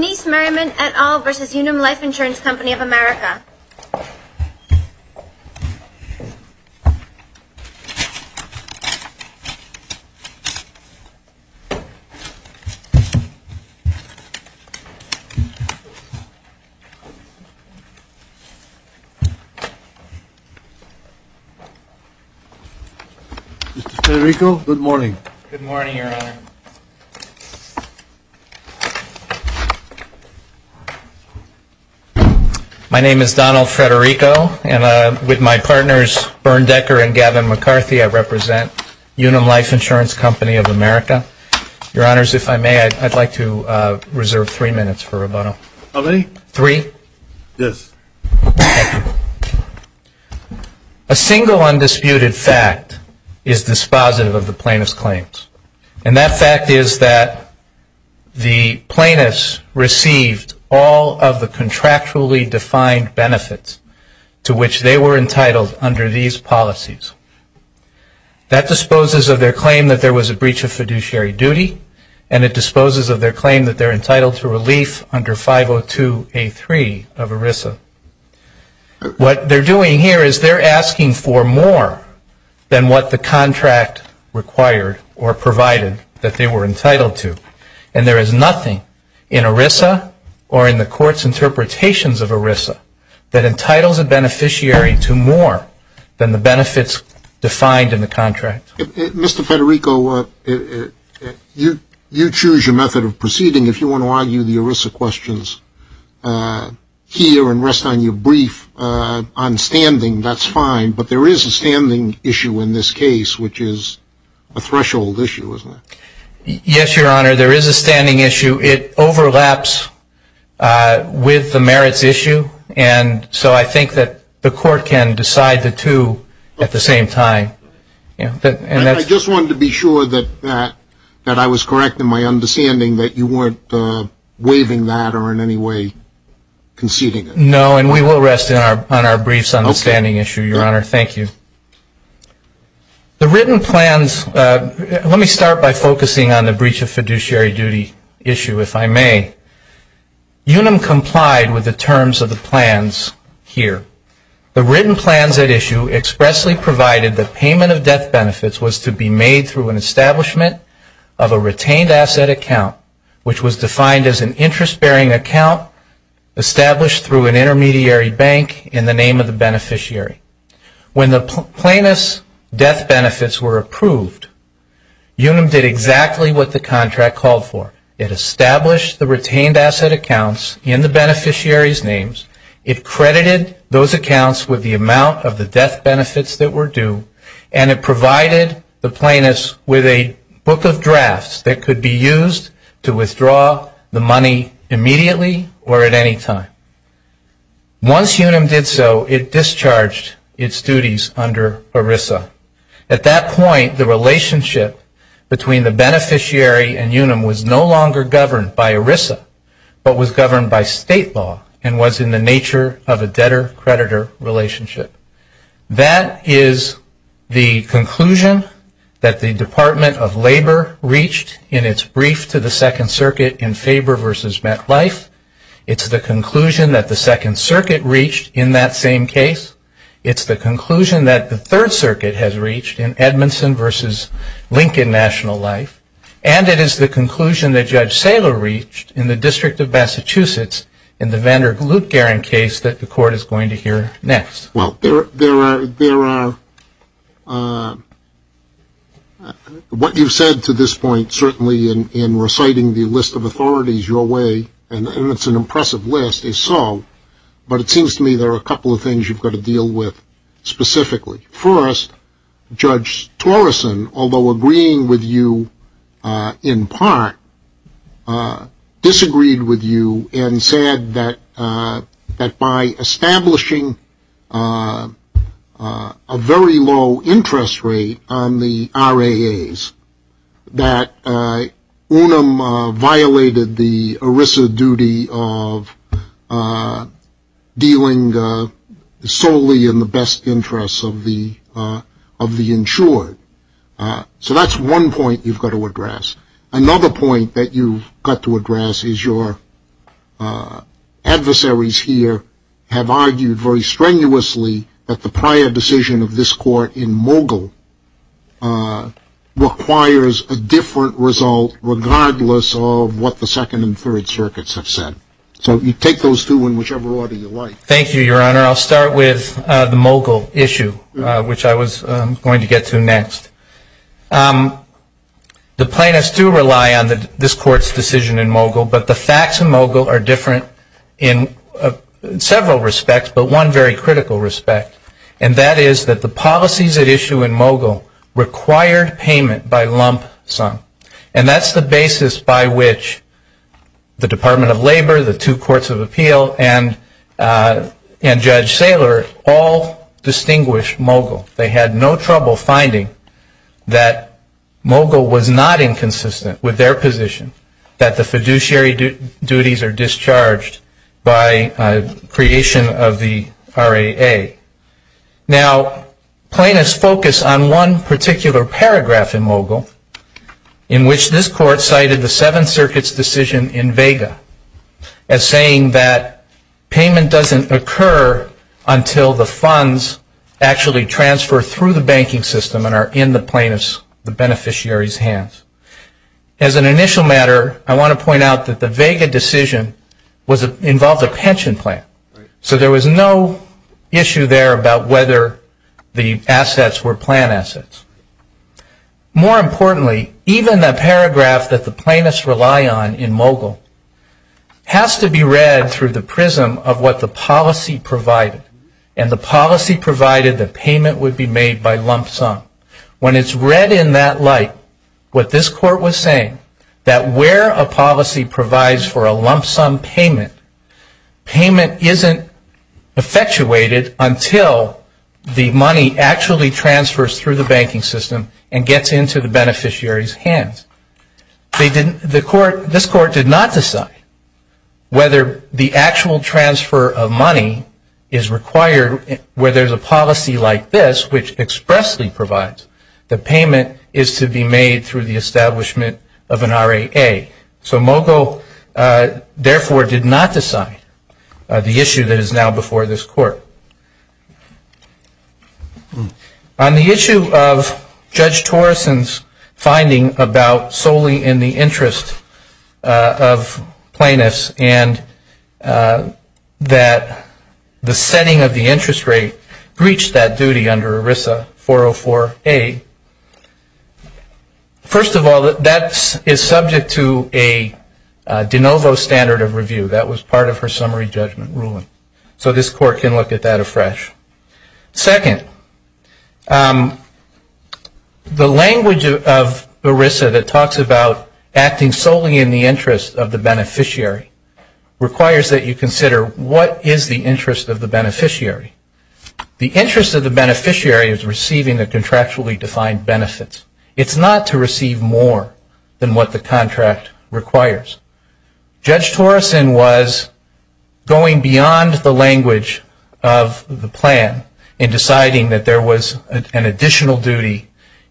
Denise Merrimon et al. v. Unum Life Insurance Company of America Mr. Federico, good morning. Good morning, Your Honor. My name is Donald Federico, and with my partners Bernd Decker and Gavin McCarthy, I represent Unum Life Insurance Company of America. Your Honors, if I may, I'd like to reserve three minutes for rebuttal. How many? Three. Yes. A single undisputed fact is dispositive of the plaintiff's claims. And that fact is that the plaintiffs received all of the contractually defined benefits to which they were entitled under these policies. That disposes of their claim that there was a breach of fiduciary duty, and it disposes of their claim that they're entitled to relief under 502A3 of ERISA. What they're doing here is they're asking for more than what the contract required or provided that they were entitled to. And there is nothing in ERISA or in the court's interpretations of ERISA that entitles a beneficiary to more than the benefits defined in the contract. Mr. Federico, you choose your method of proceeding. I'm going to rest on your brief on standing, that's fine. But there is a standing issue in this case, which is a threshold issue, isn't it? Yes, Your Honor, there is a standing issue. It overlaps with the merits issue. And so I think that the court can decide the two at the same time. I just wanted to be sure that I was correct in my understanding that you weren't waiving that or in any way conceding it. No, and we will rest on our briefs on the standing issue, Your Honor, thank you. The written plans, let me start by focusing on the breach of fiduciary duty issue, if I may. Unum complied with the terms of the plans here. The written plans at issue expressly provided that payment of death benefits was to be made through an establishment of a retained asset account, which was defined as an interest bearing account established through an intermediary bank in the name of the beneficiary. When the plaintiff's death benefits were approved, Unum did exactly what the contract called for. It established the retained asset accounts in the beneficiary's names. It credited those accounts with the amount of the death benefits that were due, and it provided the plaintiffs with a book of drafts that could be used to withdraw the money immediately or at any time. Once Unum did so, it discharged its duties under ERISA. At that point, the relationship between the beneficiary and Unum was no longer governed by ERISA, but was governed by state law and was in the nature of a debtor-creditor relationship. That is the conclusion that the Department of Labor reached in its brief to the Second Circuit in Faber v. Metlife. It's the conclusion that the Second Circuit reached in that same case. It's the conclusion that the Third Circuit has reached in Edmondson v. Lincoln National Life. And it is the conclusion that Judge Saylor reached in the District of Massachusetts in the Vander Loot-Garren case that the Court is going to hear next. Well, what you've said to this point, certainly in reciting the list of authorities your way, and it's an impressive list, is so, but it seems to me there are a couple of things you've got to deal with specifically. First, Judge Torreson, although agreeing with you in part, disagreed with you and said that by establishing a very low interest rate on the RAAs, that Unum violated the ERISA duty of dealing solely in the best interests of the insured. So that's one point you've got to address. Another point that you've got to address is your adversaries here have argued very strenuously that the prior decision of this Court in Mogul requires a different result regardless of what the Second and Third Circuits have said. So you take those two in whichever order you like. Thank you, Your Honor. I'll start with the Mogul issue, which I was going to get to next. The plaintiffs do rely on this Court's decision in Mogul, but the facts in Mogul are different in several respects, but one very critical respect, and that is that the policies at issue in Mogul required payment by lump sum, and that's the basis by which the Department of Labor, the two Courts of Appeal, and Judge Torreson agreed that Mogul's decision in Mogul was inconsistent with their position. Judge Taylor and Judge Saylor all distinguished Mogul. They had no trouble finding that Mogul was not inconsistent with their position, that the fiduciary duties are discharged by creation of the RAA. Now, plaintiffs focus on one particular paragraph in Mogul in which this Court cited the Seventh Circuit's decision in Vega as saying that payment doesn't occur until the funds actually transfer through the banking system and are in the plaintiff's, the beneficiary's, hands. As an initial matter, I want to point out that the Vega decision involved a pension plan. There was an issue there about whether the assets were plan assets. More importantly, even the paragraph that the plaintiffs rely on in Mogul has to be read through the prism of what the policy provided, and the policy provided that payment would be made by lump sum. When it's read in that light, what this Court was saying, that where a policy provides for a lump sum payment, payment isn't effectuated until the money actually transfers through the banking system and gets into the beneficiary's hands. This Court did not decide whether the actual transfer of money is required where there's a policy like this, which expressly provides that payment is to be made through the establishment of an RAA. So Mogul, therefore, did not decide the issue that is now before this Court. On the issue of Judge Torreson's finding about solely in the interest of plaintiffs, and that the setting of the interest rate breached that duty under ERISA 404A, first of all, that is subject to, in my view, a different set of standards of review that was part of her summary judgment ruling. So this Court can look at that afresh. Second, the language of ERISA that talks about acting solely in the interest of the beneficiary requires that you consider what is the interest of the beneficiary. The interest of the beneficiary is receiving the contractually defined benefits. It's not to receive more than what the contract requires. Judge Torreson was going beyond the language of the plan in deciding that there was an additional duty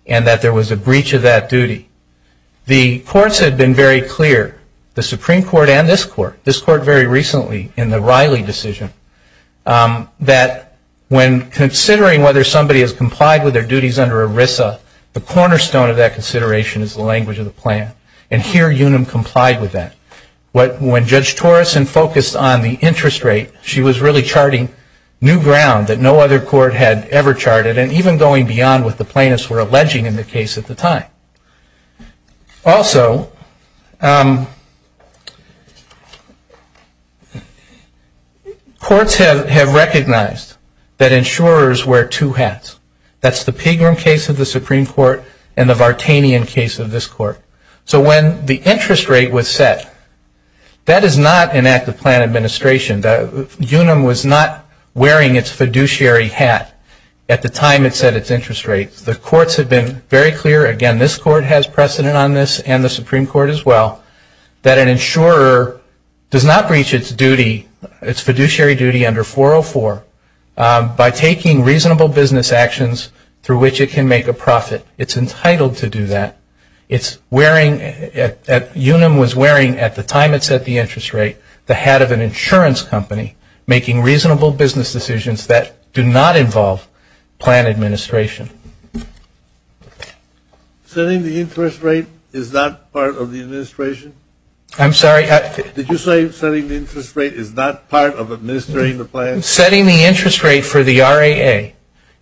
and that there was a breach of that duty. The courts had been very clear, the Supreme Court and this Court, this Court very recently in the Riley decision, that when considering whether somebody has complied with their duties under ERISA, the cornerstone of that consideration is the language of the plan. And here Unum complied with that. When Judge Torreson focused on the interest rate, she was really charting new ground that no other court had ever charted and even going beyond what the plaintiffs were alleging in the case at the time. Also, courts have recognized that insurers wear two hats. That's the Pagram case of the Supreme Court and the Vartanian case of this Court. So when the interest rate was set, that is not an act of plan administration. Unum was not wearing its fiduciary hat at the time it set its interest rate. The courts have been very clear, again, this Court has precedent on this and the Supreme Court as well, that an insurer does not breach its fiduciary duty under 404 by taking reasonable business actions through which it can make a profit. It's entitled to do that. It's wearing, Unum was wearing at the time it set the interest rate, the hat of an insurance company making reasonable business decisions that do not involve plan administration. Setting the interest rate is not part of the administration? I'm sorry? Did you say setting the interest rate is not part of administering the plan? Setting the interest rate for the RAA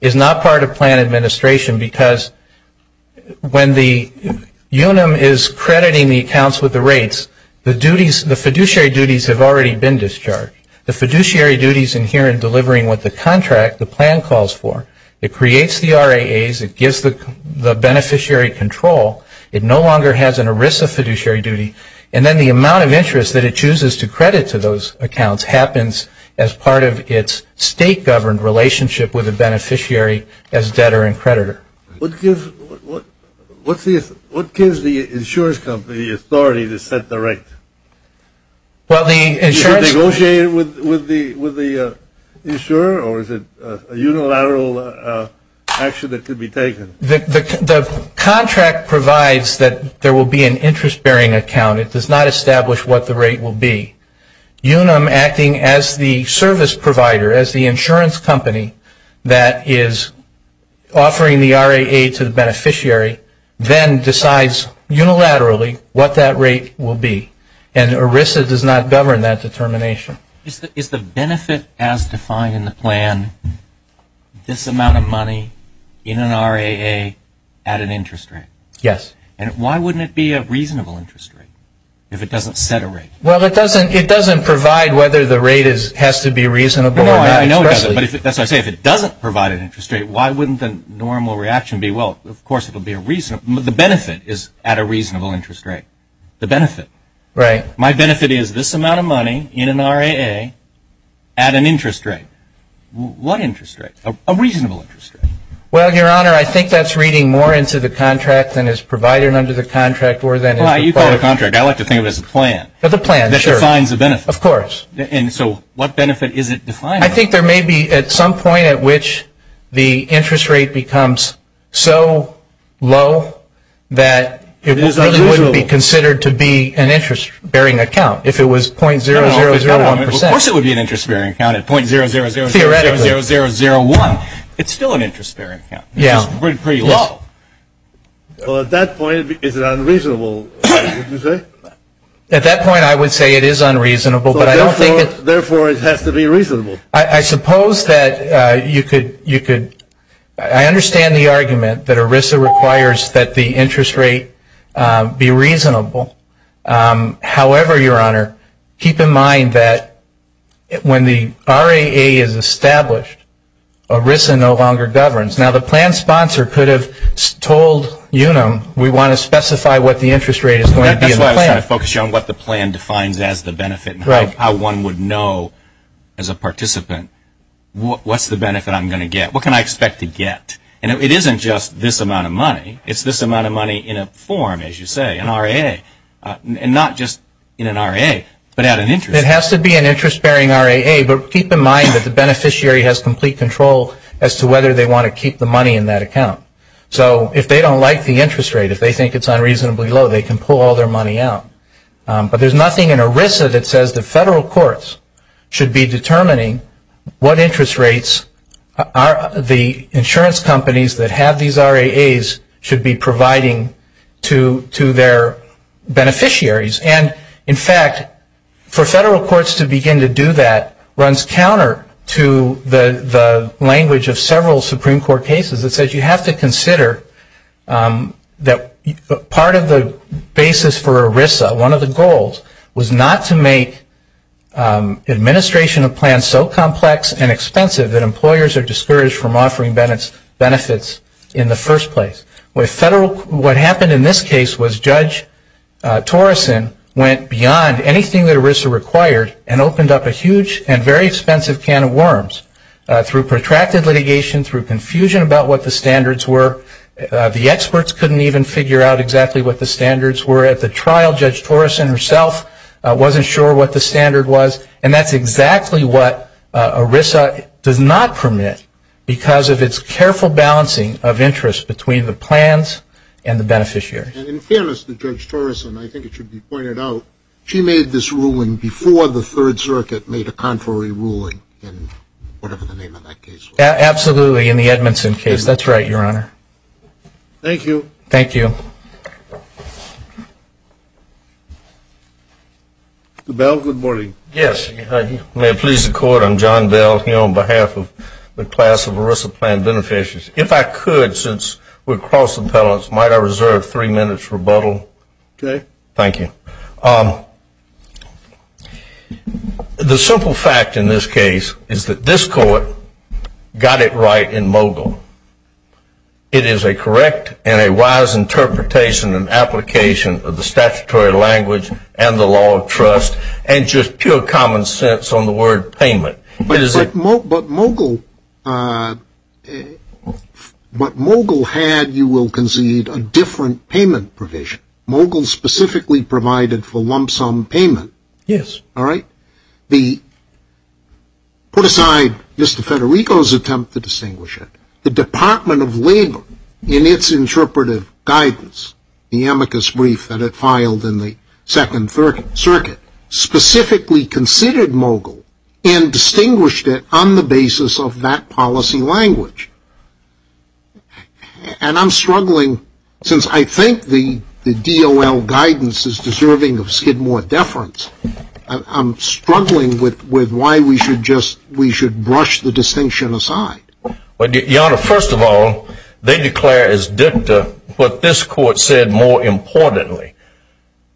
is not part of plan administration because when the Unum is crediting the accounts with the rates, the fiduciary duties have already been discharged. The fiduciary duties in here in delivering what the contract, the plan calls for, it creates the RAAs, it gives the beneficiary control, it no longer has an ERISA fiduciary duty, and then the amount of interest that it chooses to credit to those accounts happens as part of its state-governed relationship with the beneficiary as debtor and creditor. What gives the insurance company the authority to set the rate? You should negotiate with the insurer or is it a unilateral action that could be taken? The contract provides that there will be an interest-bearing account. It does not establish what the rate will be. Unum acting as the service provider, as the insurance company that is offering the RAA to the beneficiary, then decides unilaterally what that rate will be. And ERISA does not govern that determination. Is the benefit as defined in the plan this amount of money in an RAA at an interest rate? Yes. And why wouldn't it be a reasonable interest rate if it doesn't set a rate? Well, it doesn't provide whether the rate has to be reasonable or not. No, I know it doesn't. But as I say, if it doesn't provide an interest rate, why wouldn't the normal reaction be, well, of course it will be a reasonable, the benefit is at a reasonable interest rate. My benefit is this amount of money in an RAA at an interest rate. What interest rate? A reasonable interest rate. Well, Your Honor, I think that's reading more into the contract than is provided under the contract. Well, you call it a contract. I like to think of it as a plan. The plan, sure. That defines the benefit. Of course. I think there may be at some point at which the interest rate becomes so low that it really wouldn't be considered to be an interest-bearing account if it was .0001 percent. Of course it would be an interest-bearing account at .0001. It's still an interest-bearing account. Well, at that point, is it unreasonable, would you say? At that point, I would say it is unreasonable. Therefore, it has to be reasonable. I suppose that you could, I understand the argument that ERISA requires that the interest rate be reasonable. However, Your Honor, keep in mind that when the RAA is established, ERISA no longer governs. Now, the plan sponsor could have told UNAM, we want to specify what the interest rate is going to be in the plan. That's why I was trying to focus you on what the plan defines as the benefit and how one would know as a participant, what's the benefit I'm going to get, what can I expect to get. And it isn't just this amount of money. It's this amount of money in a form, as you say, an RAA. And not just in an RAA, but at an interest. It has to be an interest-bearing RAA, but keep in mind that the beneficiary has complete control as to whether they want to keep the money in that account. So if they don't like the interest rate, if they think it's unreasonably low, they can pull all their money out. But there's nothing in ERISA that says the federal courts should be determining what interest rates the insurance companies that have these RAAs should be providing to their beneficiaries. And, in fact, for federal courts to begin to do that runs counter to the language of several Supreme Court cases that says you have to consider that part of the basis for ERISA, one of the goals, was not to make administration of plans so complex and expensive that employers are discouraged from offering benefits in the first place. What happened in this case was Judge Torrison went beyond anything that ERISA required and opened up a huge and very expensive can of worms through protracted litigation, through confusion about what the standards were. The experts couldn't even figure out exactly what the standards were at the trial. Judge Torrison herself wasn't sure what the standard was, and that's exactly what ERISA does not permit because of its careful balancing of interest between the plans and the beneficiaries. And in fairness to Judge Torrison, I think it should be pointed out, she made this ruling before the Third Circuit made a contrary ruling in whatever the name of that case was. Absolutely, in the Edmondson case. That's right, Your Honor. Thank you. Thank you. Mr. Bell, good morning. Yes. May it please the Court, I'm John Bell here on behalf of the class of ERISA plan beneficiaries. If I could, since we're cross appellants, might I reserve three minutes for rebuttal? Okay. Thank you. The simple fact in this case is that this Court got it right in Mogul. It is a correct and a wise interpretation and application of the statutory language and the law of trust and just pure common sense on the word payment. But Mogul had, you will concede, a different payment provision. Mogul specifically provided for lump sum payment. Yes. All right? Put aside Mr. Federico's attempt to distinguish it, the Department of Labor, in its interpretive guidance, the amicus brief that it filed in the Second Circuit, specifically considered Mogul and distinguished it on the basis of that policy language. And I'm struggling, since I think the DOL guidance is deserving of skid more deference, I'm struggling with why we should brush the distinction aside. Your Honor, first of all, they declare as dicta what this Court said more importantly.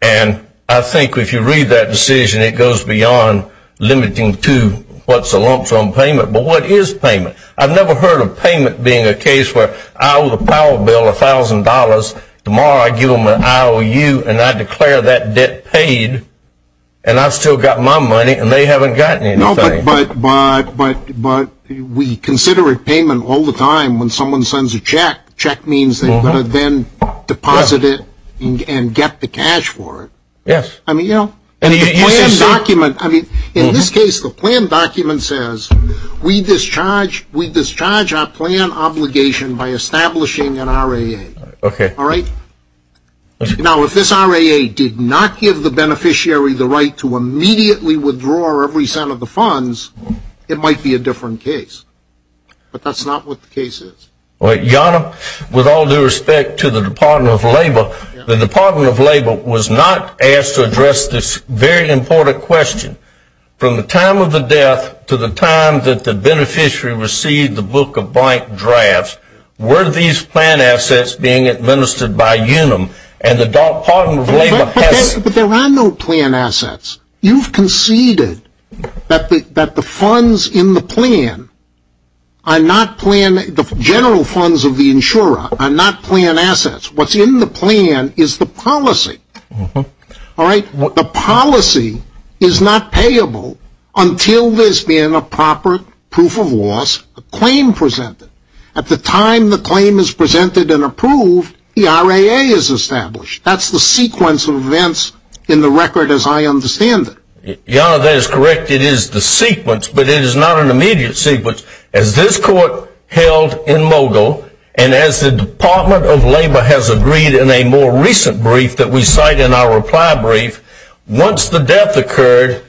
And I think if you read that decision, it goes beyond limiting to what's a lump sum payment. But what is payment? I've never heard of payment being a case where I owe the power bill $1,000, tomorrow I give them an IOU and I declare that debt paid, and I've still got my money and they haven't gotten anything. No, but we consider it payment all the time when someone sends a check. Check means they're going to then deposit it and get the cash for it. Yes. I mean, you know, in this case the plan document says we discharge our plan obligation by establishing an RAA. Okay. All right? Now, if this RAA did not give the beneficiary the right to immediately withdraw every cent of the funds, it might be a different case. But that's not what the case is. Your Honor, with all due respect to the Department of Labor, the Department of Labor was not asked to address this very important question. From the time of the death to the time that the beneficiary received the book of blank drafts, were these plan assets being administered by UNUM? And the Department of Labor has But there are no plan assets. You've conceded that the funds in the plan are not plan, the general funds of the insurer are not plan assets. What's in the plan is the policy. All right? The policy is not payable until there's been a proper proof of loss, a claim presented. At the time the claim is presented and approved, the RAA is established. That's the sequence of events in the record as I understand it. Your Honor, that is correct. It is the sequence, but it is not an immediate sequence. As this court held in Mogul, and as the Department of Labor has agreed in a more recent brief that we cite in our reply brief, once the death occurred,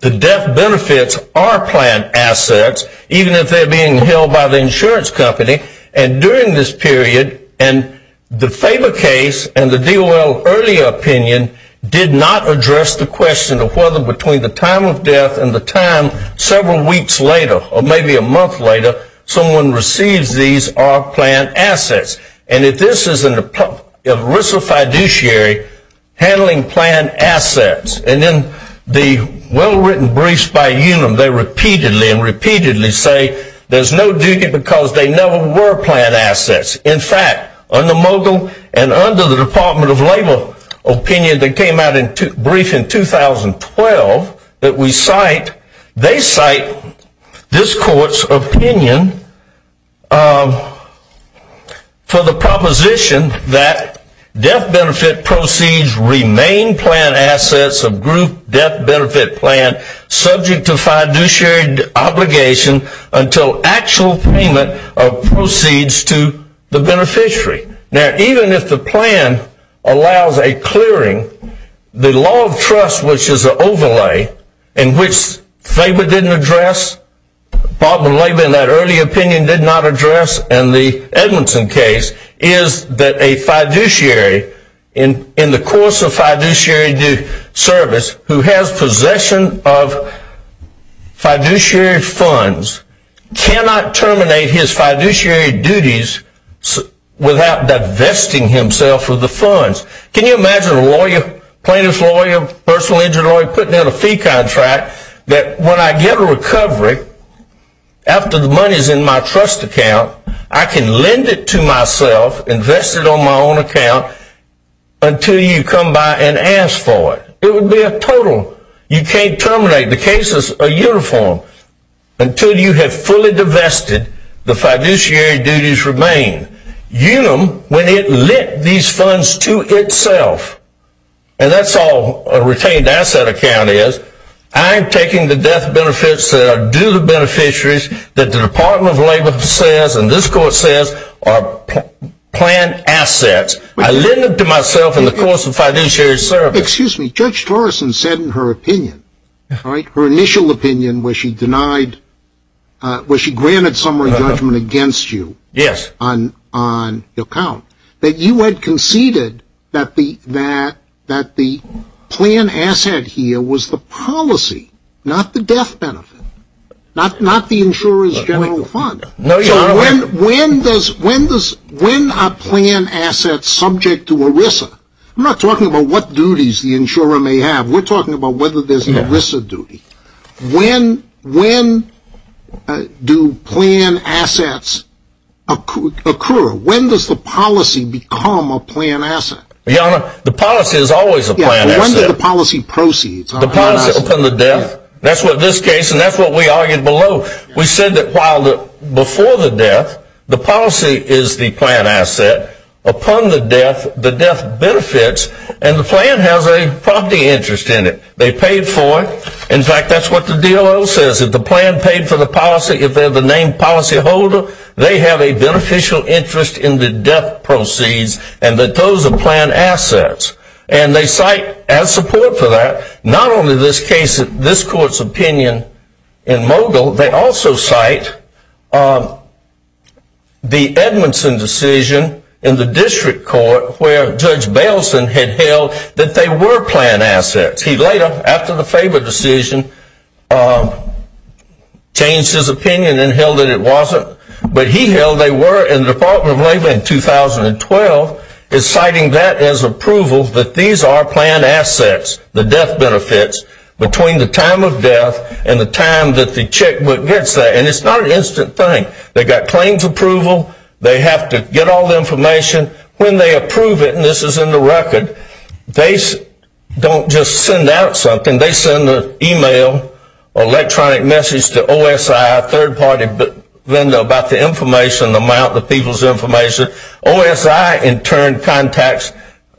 the death benefits are plan assets, even if they're being held by the insurance company. And during this period, and the Faber case and the DOL earlier opinion did not address the question of whether between the time of death and the time several weeks later, or maybe a month later, someone receives these are plan assets. And if this is in the risk of fiduciary, handling plan assets, and in the well-written briefs by Unum, they repeatedly and repeatedly say there's no duty because they never were plan assets. In fact, under Mogul and under the Department of Labor opinion that came out in a brief in 2012 that we cite, they cite this court's opinion for the proposition that death benefit proceeds remain plan assets of group death benefit plan, subject to fiduciary obligation until actual payment of proceeds to the beneficiary. Now, even if the plan allows a clearing, the law of trust, which is an overlay, in which Faber didn't address, Department of Labor in that early opinion did not address, and the Edmondson case, is that a fiduciary in the course of fiduciary service who has possession of fiduciary funds cannot terminate his fiduciary duties without divesting himself of the funds. Can you imagine a lawyer, plaintiff's lawyer, personal injury lawyer, putting out a fee contract that when I get a recovery, after the money is in my trust account, I can lend it to myself, invest it on my own account, until you come by and ask for it. It would be a total. You can't terminate. The cases are uniform. Until you have fully divested, the fiduciary duties remain. When it lent these funds to itself, and that's all a retained asset account is, I'm taking the death benefits that are due to beneficiaries that the Department of Labor says, and this court says, are plan assets. I lend them to myself in the course of fiduciary service. Excuse me. Judge Torreson said in her opinion, her initial opinion where she denied, where she granted summary judgment against you on the account, that you had conceded that the plan asset here was the policy, not the death benefit, not the insurer's general fund. When are plan assets subject to ERISA? I'm not talking about what duties the insurer may have. We're talking about whether there's an ERISA duty. When do plan assets occur? When does the policy become a plan asset? Your Honor, the policy is always a plan asset. When does the policy proceed? Upon the death. That's what this case, and that's what we argued below. We said that while before the death, the policy is the plan asset. Upon the death, the death benefits, and the plan has a property interest in it. They paid for it. In fact, that's what the DOO says. If the plan paid for the policy, if they're the named policyholder, they have a beneficial interest in the death proceeds, and that those are plan assets. And they cite as support for that, not only this case, this court's opinion in Mogill, they also cite the Edmondson decision in the district court where Judge Baleson had held that they were plan assets. He later, after the Faber decision, changed his opinion and held that it wasn't. But he held they were in the Department of Labor in 2012, citing that as approval that these are plan assets, the death benefits, between the time of death and the time that the checkbook gets that. And it's not an instant thing. They've got claims approval. They have to get all the information. When they approve it, and this is in the record, they don't just send out something. They send an email, electronic message to OSI, a third-party vendor about the information, the amount, the people's information. OSI, in turn, contacts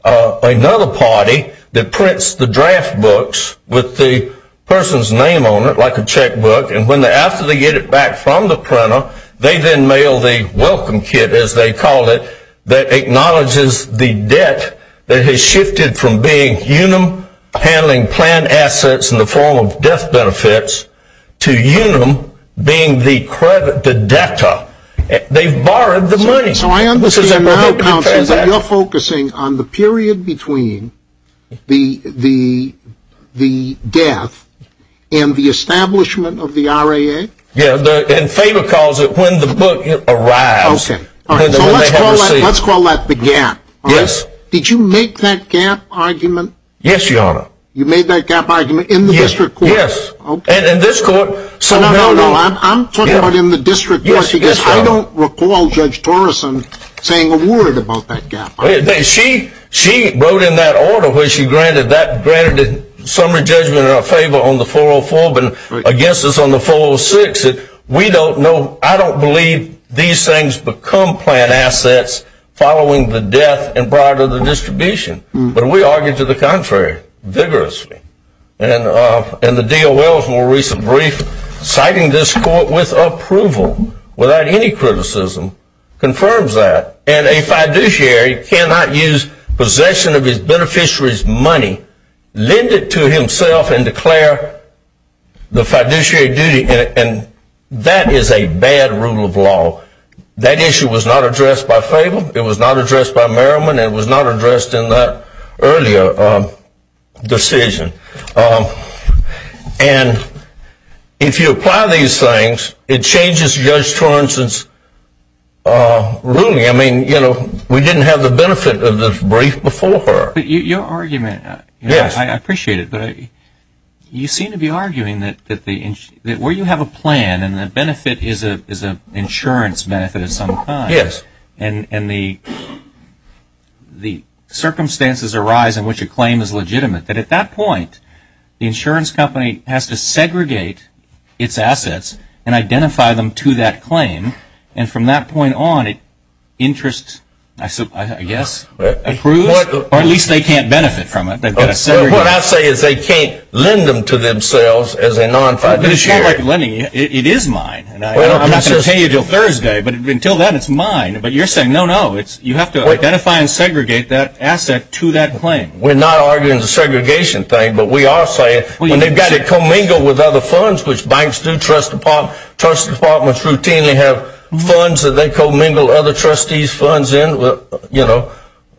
another party that prints the draft books with the person's name on it, like a checkbook. And after they get it back from the printer, they then mail the welcome kit, as they call it, that acknowledges the debt that has shifted from being UNUM handling plan assets in the form of death benefits to UNUM being the debtor. They've borrowed the money. So I understand now, counsel, that you're focusing on the period between the death and the establishment of the RAA? Yeah, and Faber calls it when the book arrives. Okay, so let's call that the gap. Yes. Did you make that gap argument? Yes, Your Honor. You made that gap argument in the district court? Yes, and in this court. No, no, no, I'm talking about in the district court because I don't recall Judge Torreson saying a word about that gap. She wrote in that order where she granted a summary judgment in our favor on the 404, but against us on the 406. She said, we don't know, I don't believe these things become plan assets following the death and prior to the distribution. But we argued to the contrary vigorously. And the DOL's more recent brief citing this court with approval without any criticism confirms that. And a fiduciary cannot use possession of his beneficiary's money, lend it to himself, and declare the fiduciary duty in it. And that is a bad rule of law. That issue was not addressed by Faber, it was not addressed by Merriman, and it was not addressed in that earlier decision. And if you apply these things, it changes Judge Torrenson's ruling. I mean, you know, we didn't have the benefit of the brief before her. But your argument, I appreciate it, but you seem to be arguing that where you have a plan and the benefit is an insurance benefit of some kind, and the circumstances arise in which a claim is legitimate, that at that point, the insurance company has to segregate its assets and identify them to that claim. And from that point on, it interests, I guess, approves, or at least they can't benefit from it. What I say is they can't lend them to themselves as a non-fiduciary. It is mine. I'm not going to pay you until Thursday, but until then, it's mine. But you're saying, no, no, you have to identify and segregate that asset to that claim. We're not arguing the segregation thing, but we are saying when they've got it commingled with other funds, which banks do, trust departments routinely have funds that they commingle other trustees' funds in, you know,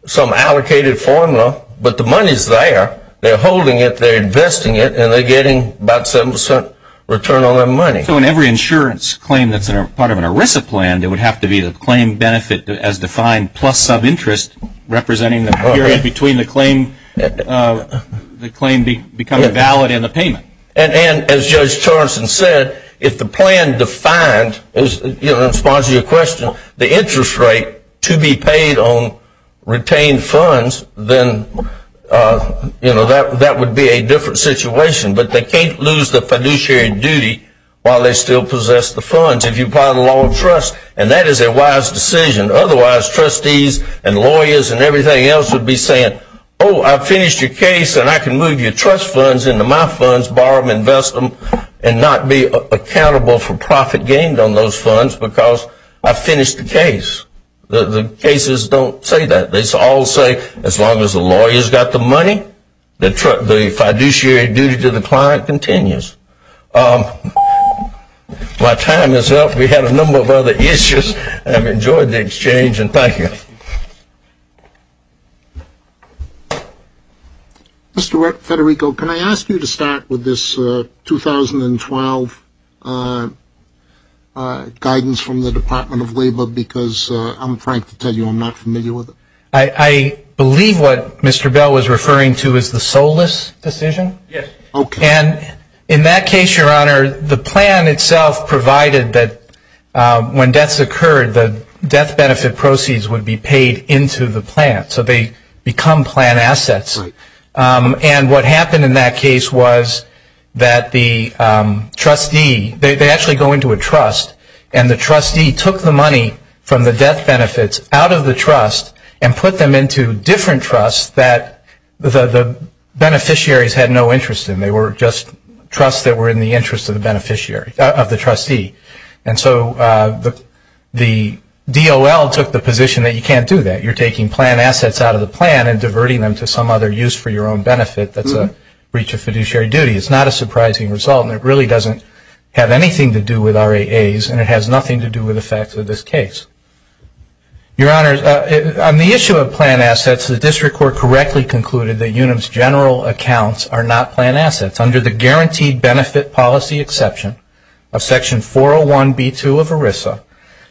some allocated formula, but the money's there. They're holding it. They're investing it, and they're getting about 7% return on their money. So in every insurance claim that's part of an ERISA plan, there would have to be the claim benefit as defined plus some interest representing the period between the claim becoming valid and the payment. And as Judge Torrenson said, if the plan defined, in response to your question, the interest rate to be paid on retained funds, then that would be a different situation. But they can't lose the fiduciary duty while they still possess the funds if you apply the law of trust, and that is a wise decision. Otherwise, trustees and lawyers and everything else would be saying, oh, I finished your case, and I can move your trust funds into my funds, borrow them, invest them, and not be accountable for profit gained on those funds because I finished the case. The cases don't say that. They all say as long as the lawyer's got the money, the fiduciary duty to the client continues. My time is up. We had a number of other issues. I've enjoyed the exchange, and thank you. Mr. Federico, can I ask you to start with this 2012 guidance from the Department of Labor because I'm trying to tell you I'm not familiar with it. I believe what Mr. Bell was referring to is the SOLAS decision. Yes. Okay. And in that case, Your Honor, the plan itself provided that when deaths occurred, the death benefit proceeds would be paid into the plan, so they become plan assets. And what happened in that case was that the trustee, they actually go into a trust, and the trustee took the money from the death benefits out of the trust and put them into different trusts that the beneficiaries had no interest in. They were just trusts that were in the interest of the trustee. And so the DOL took the position that you can't do that. You're taking plan assets out of the plan and diverting them to some other use for your own benefit that's a breach of fiduciary duty. It's not a surprising result, and it really doesn't have anything to do with RAAs, and it has nothing to do with the facts of this case. Your Honor, on the issue of plan assets, the district court correctly concluded that UNAM's general accounts are not plan assets. Under the guaranteed benefit policy exception of Section 401B2 of ERISA,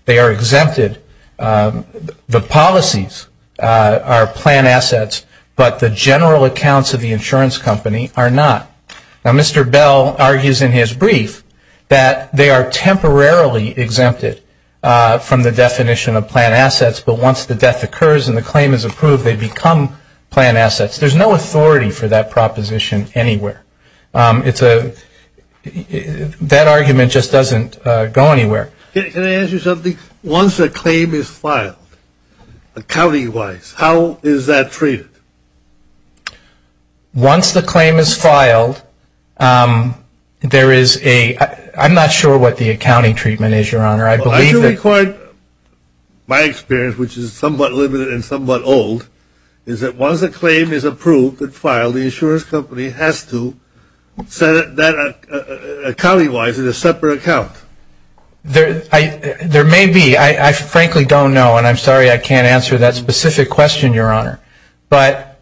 they are exempted. The policies are plan assets, but the general accounts of the insurance company are not. Now, Mr. Bell argues in his brief that they are temporarily exempted from the definition of plan assets, but once the death occurs and the claim is approved, they become plan assets. There's no authority for that proposition anywhere. It's a – that argument just doesn't go anywhere. Can I ask you something? Once a claim is filed, accounting-wise, how is that treated? Once the claim is filed, there is a – I'm not sure what the accounting treatment is, Your Honor. My experience, which is somewhat limited and somewhat old, is that once a claim is approved and filed, the insurance company has to set that, accounting-wise, in a separate account. There may be. I frankly don't know, and I'm sorry I can't answer that specific question, Your Honor. But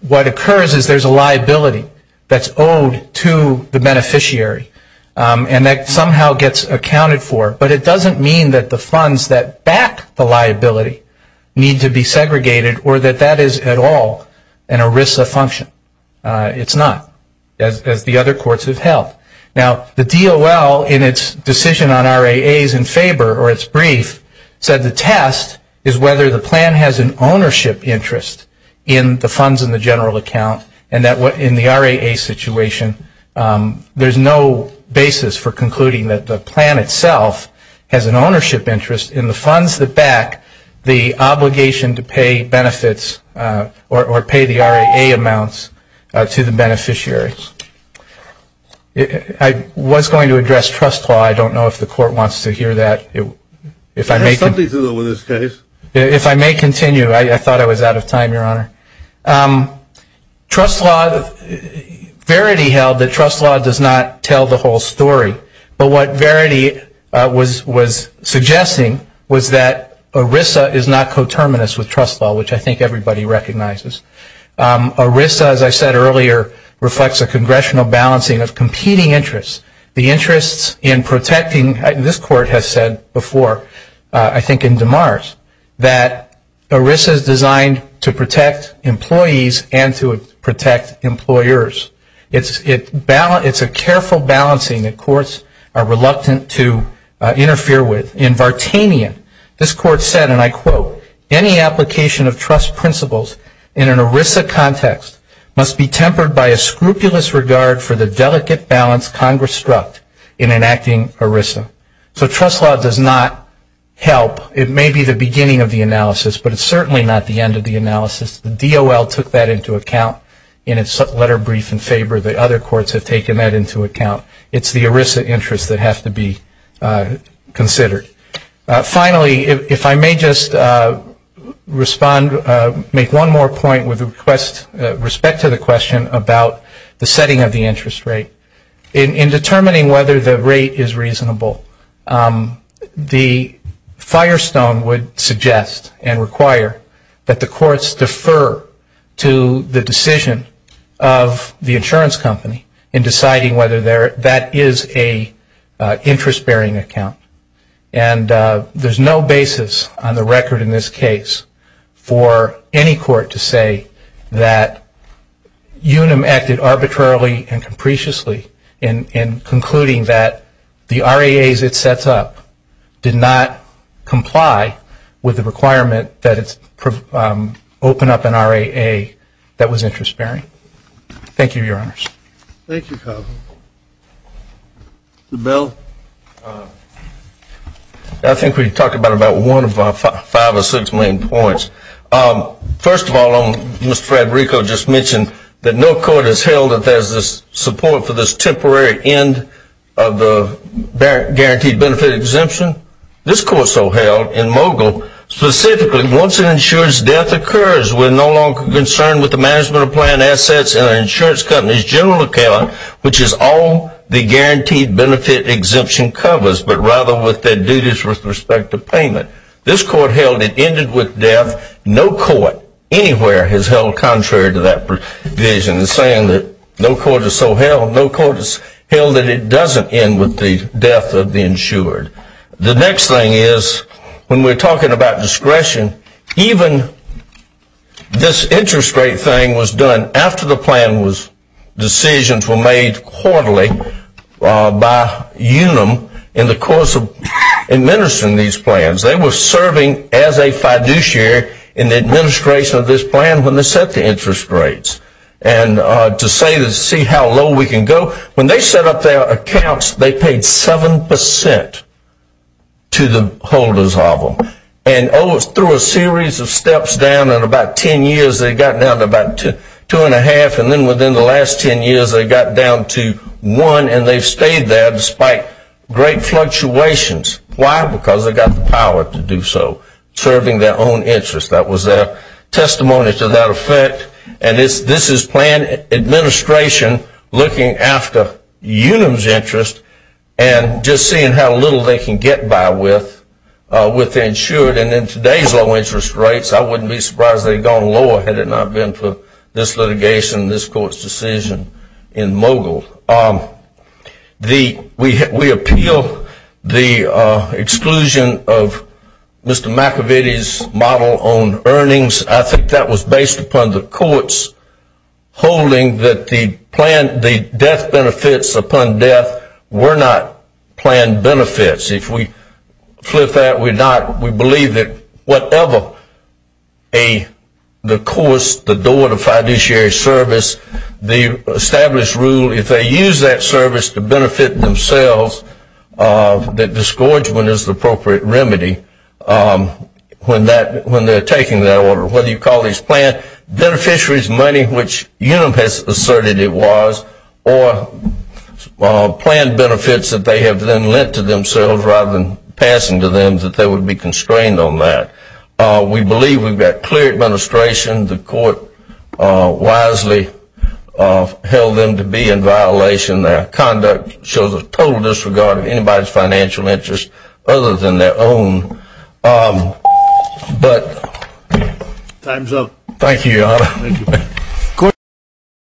what occurs is there's a liability that's owed to the beneficiary, and that somehow gets accounted for, but it doesn't mean that the funds that back the liability need to be segregated or that that is at all an ERISA function. It's not, as the other courts have held. Now, the DOL, in its decision on RAAs in favor, or its brief, said the test is whether the plan has an ownership interest in the funds in the general account and that in the RAA situation there's no basis for concluding that the plan itself has an ownership interest in the funds that back the obligation to pay benefits or pay the RAA amounts to the beneficiaries. I was going to address trust law. I don't know if the Court wants to hear that. There's something to it in this case. If I may continue, I thought I was out of time, Your Honor. Trust law, Verity held that trust law does not tell the whole story. But what Verity was suggesting was that ERISA is not coterminous with trust law, which I think everybody recognizes. ERISA, as I said earlier, reflects a congressional balancing of competing interests. The interests in protecting, this Court has said before, I think in DeMars, that ERISA is designed to protect employees and to protect employers. It's a careful balancing that courts are reluctant to interfere with. In Vartanian, this Court said, and I quote, any application of trust principles in an ERISA context must be tempered by a scrupulous regard for the delicate balance Congress struck in enacting ERISA. So trust law does not help. It may be the beginning of the analysis, but it's certainly not the end of the analysis. The DOL took that into account in its letter brief in favor. The other courts have taken that into account. It's the ERISA interests that have to be considered. Finally, if I may just respond, make one more point with respect to the question about the setting of the interest rate. In determining whether the rate is reasonable, the firestone would suggest and require that the courts defer to the decision of the insurance company in deciding whether that is an interest-bearing account. And there's no basis on the record in this case for any court to say that Unum acted arbitrarily and capriciously in concluding that the RAAs it sets up did not comply with the requirement that it open up an RAA that was interest-bearing. Thank you, Your Honors. Thank you, Congressman. Mr. Bell? I think we talked about one of our five or six main points. First of all, Mr. Federico just mentioned that no court has held that there's support for this temporary end of the guaranteed benefit exemption. This court so held in Mogul, specifically, once an insurer's death occurs, we're no longer concerned with the management of planned assets in an insurance company's general account, which is all the guaranteed benefit exemption covers, but rather with their duties with respect to payment. This court held it ended with death. No court anywhere has held contrary to that provision in saying that no court has so held. No court has held that it doesn't end with the death of the insured. The next thing is when we're talking about discretion, even this interest rate thing was done after the plan was decisions were made quarterly by Unum in the course of administering these plans. They were serving as a fiduciary in the administration of this plan when they set the interest rates. And to say to see how low we can go, when they set up their accounts, they paid 7% to the holders of them. And through a series of steps down, in about 10 years they got down to about 2 1⁄2, and then within the last 10 years they got down to 1, and they've stayed there despite great fluctuations. Why? Because they've got the power to do so, serving their own interests. That was their testimony to that effect. And this is planned administration looking after Unum's interest and just seeing how little they can get by with the insured. And in today's low interest rates, I wouldn't be surprised if they had gone lower had it not been for this litigation, this court's decision in Mogul. We appeal the exclusion of Mr. McAvity's model on earnings. I think that was based upon the court's holding that the death benefits upon death were not planned benefits. If we flip that, we believe that whatever the course, the door, the fiduciary service, the established rule, if they use that service to benefit themselves, that disgorgement is the appropriate remedy when they're taking that order. Whether you call these planned beneficiaries money, which Unum has asserted it was, or planned benefits that they have then lent to themselves rather than passing to them that they would be constrained on that. We believe we've got clear administration. The court wisely held them to be in violation. Their conduct shows a total disregard of anybody's financial interest other than their own. Time's up. Thank you, Your Honor.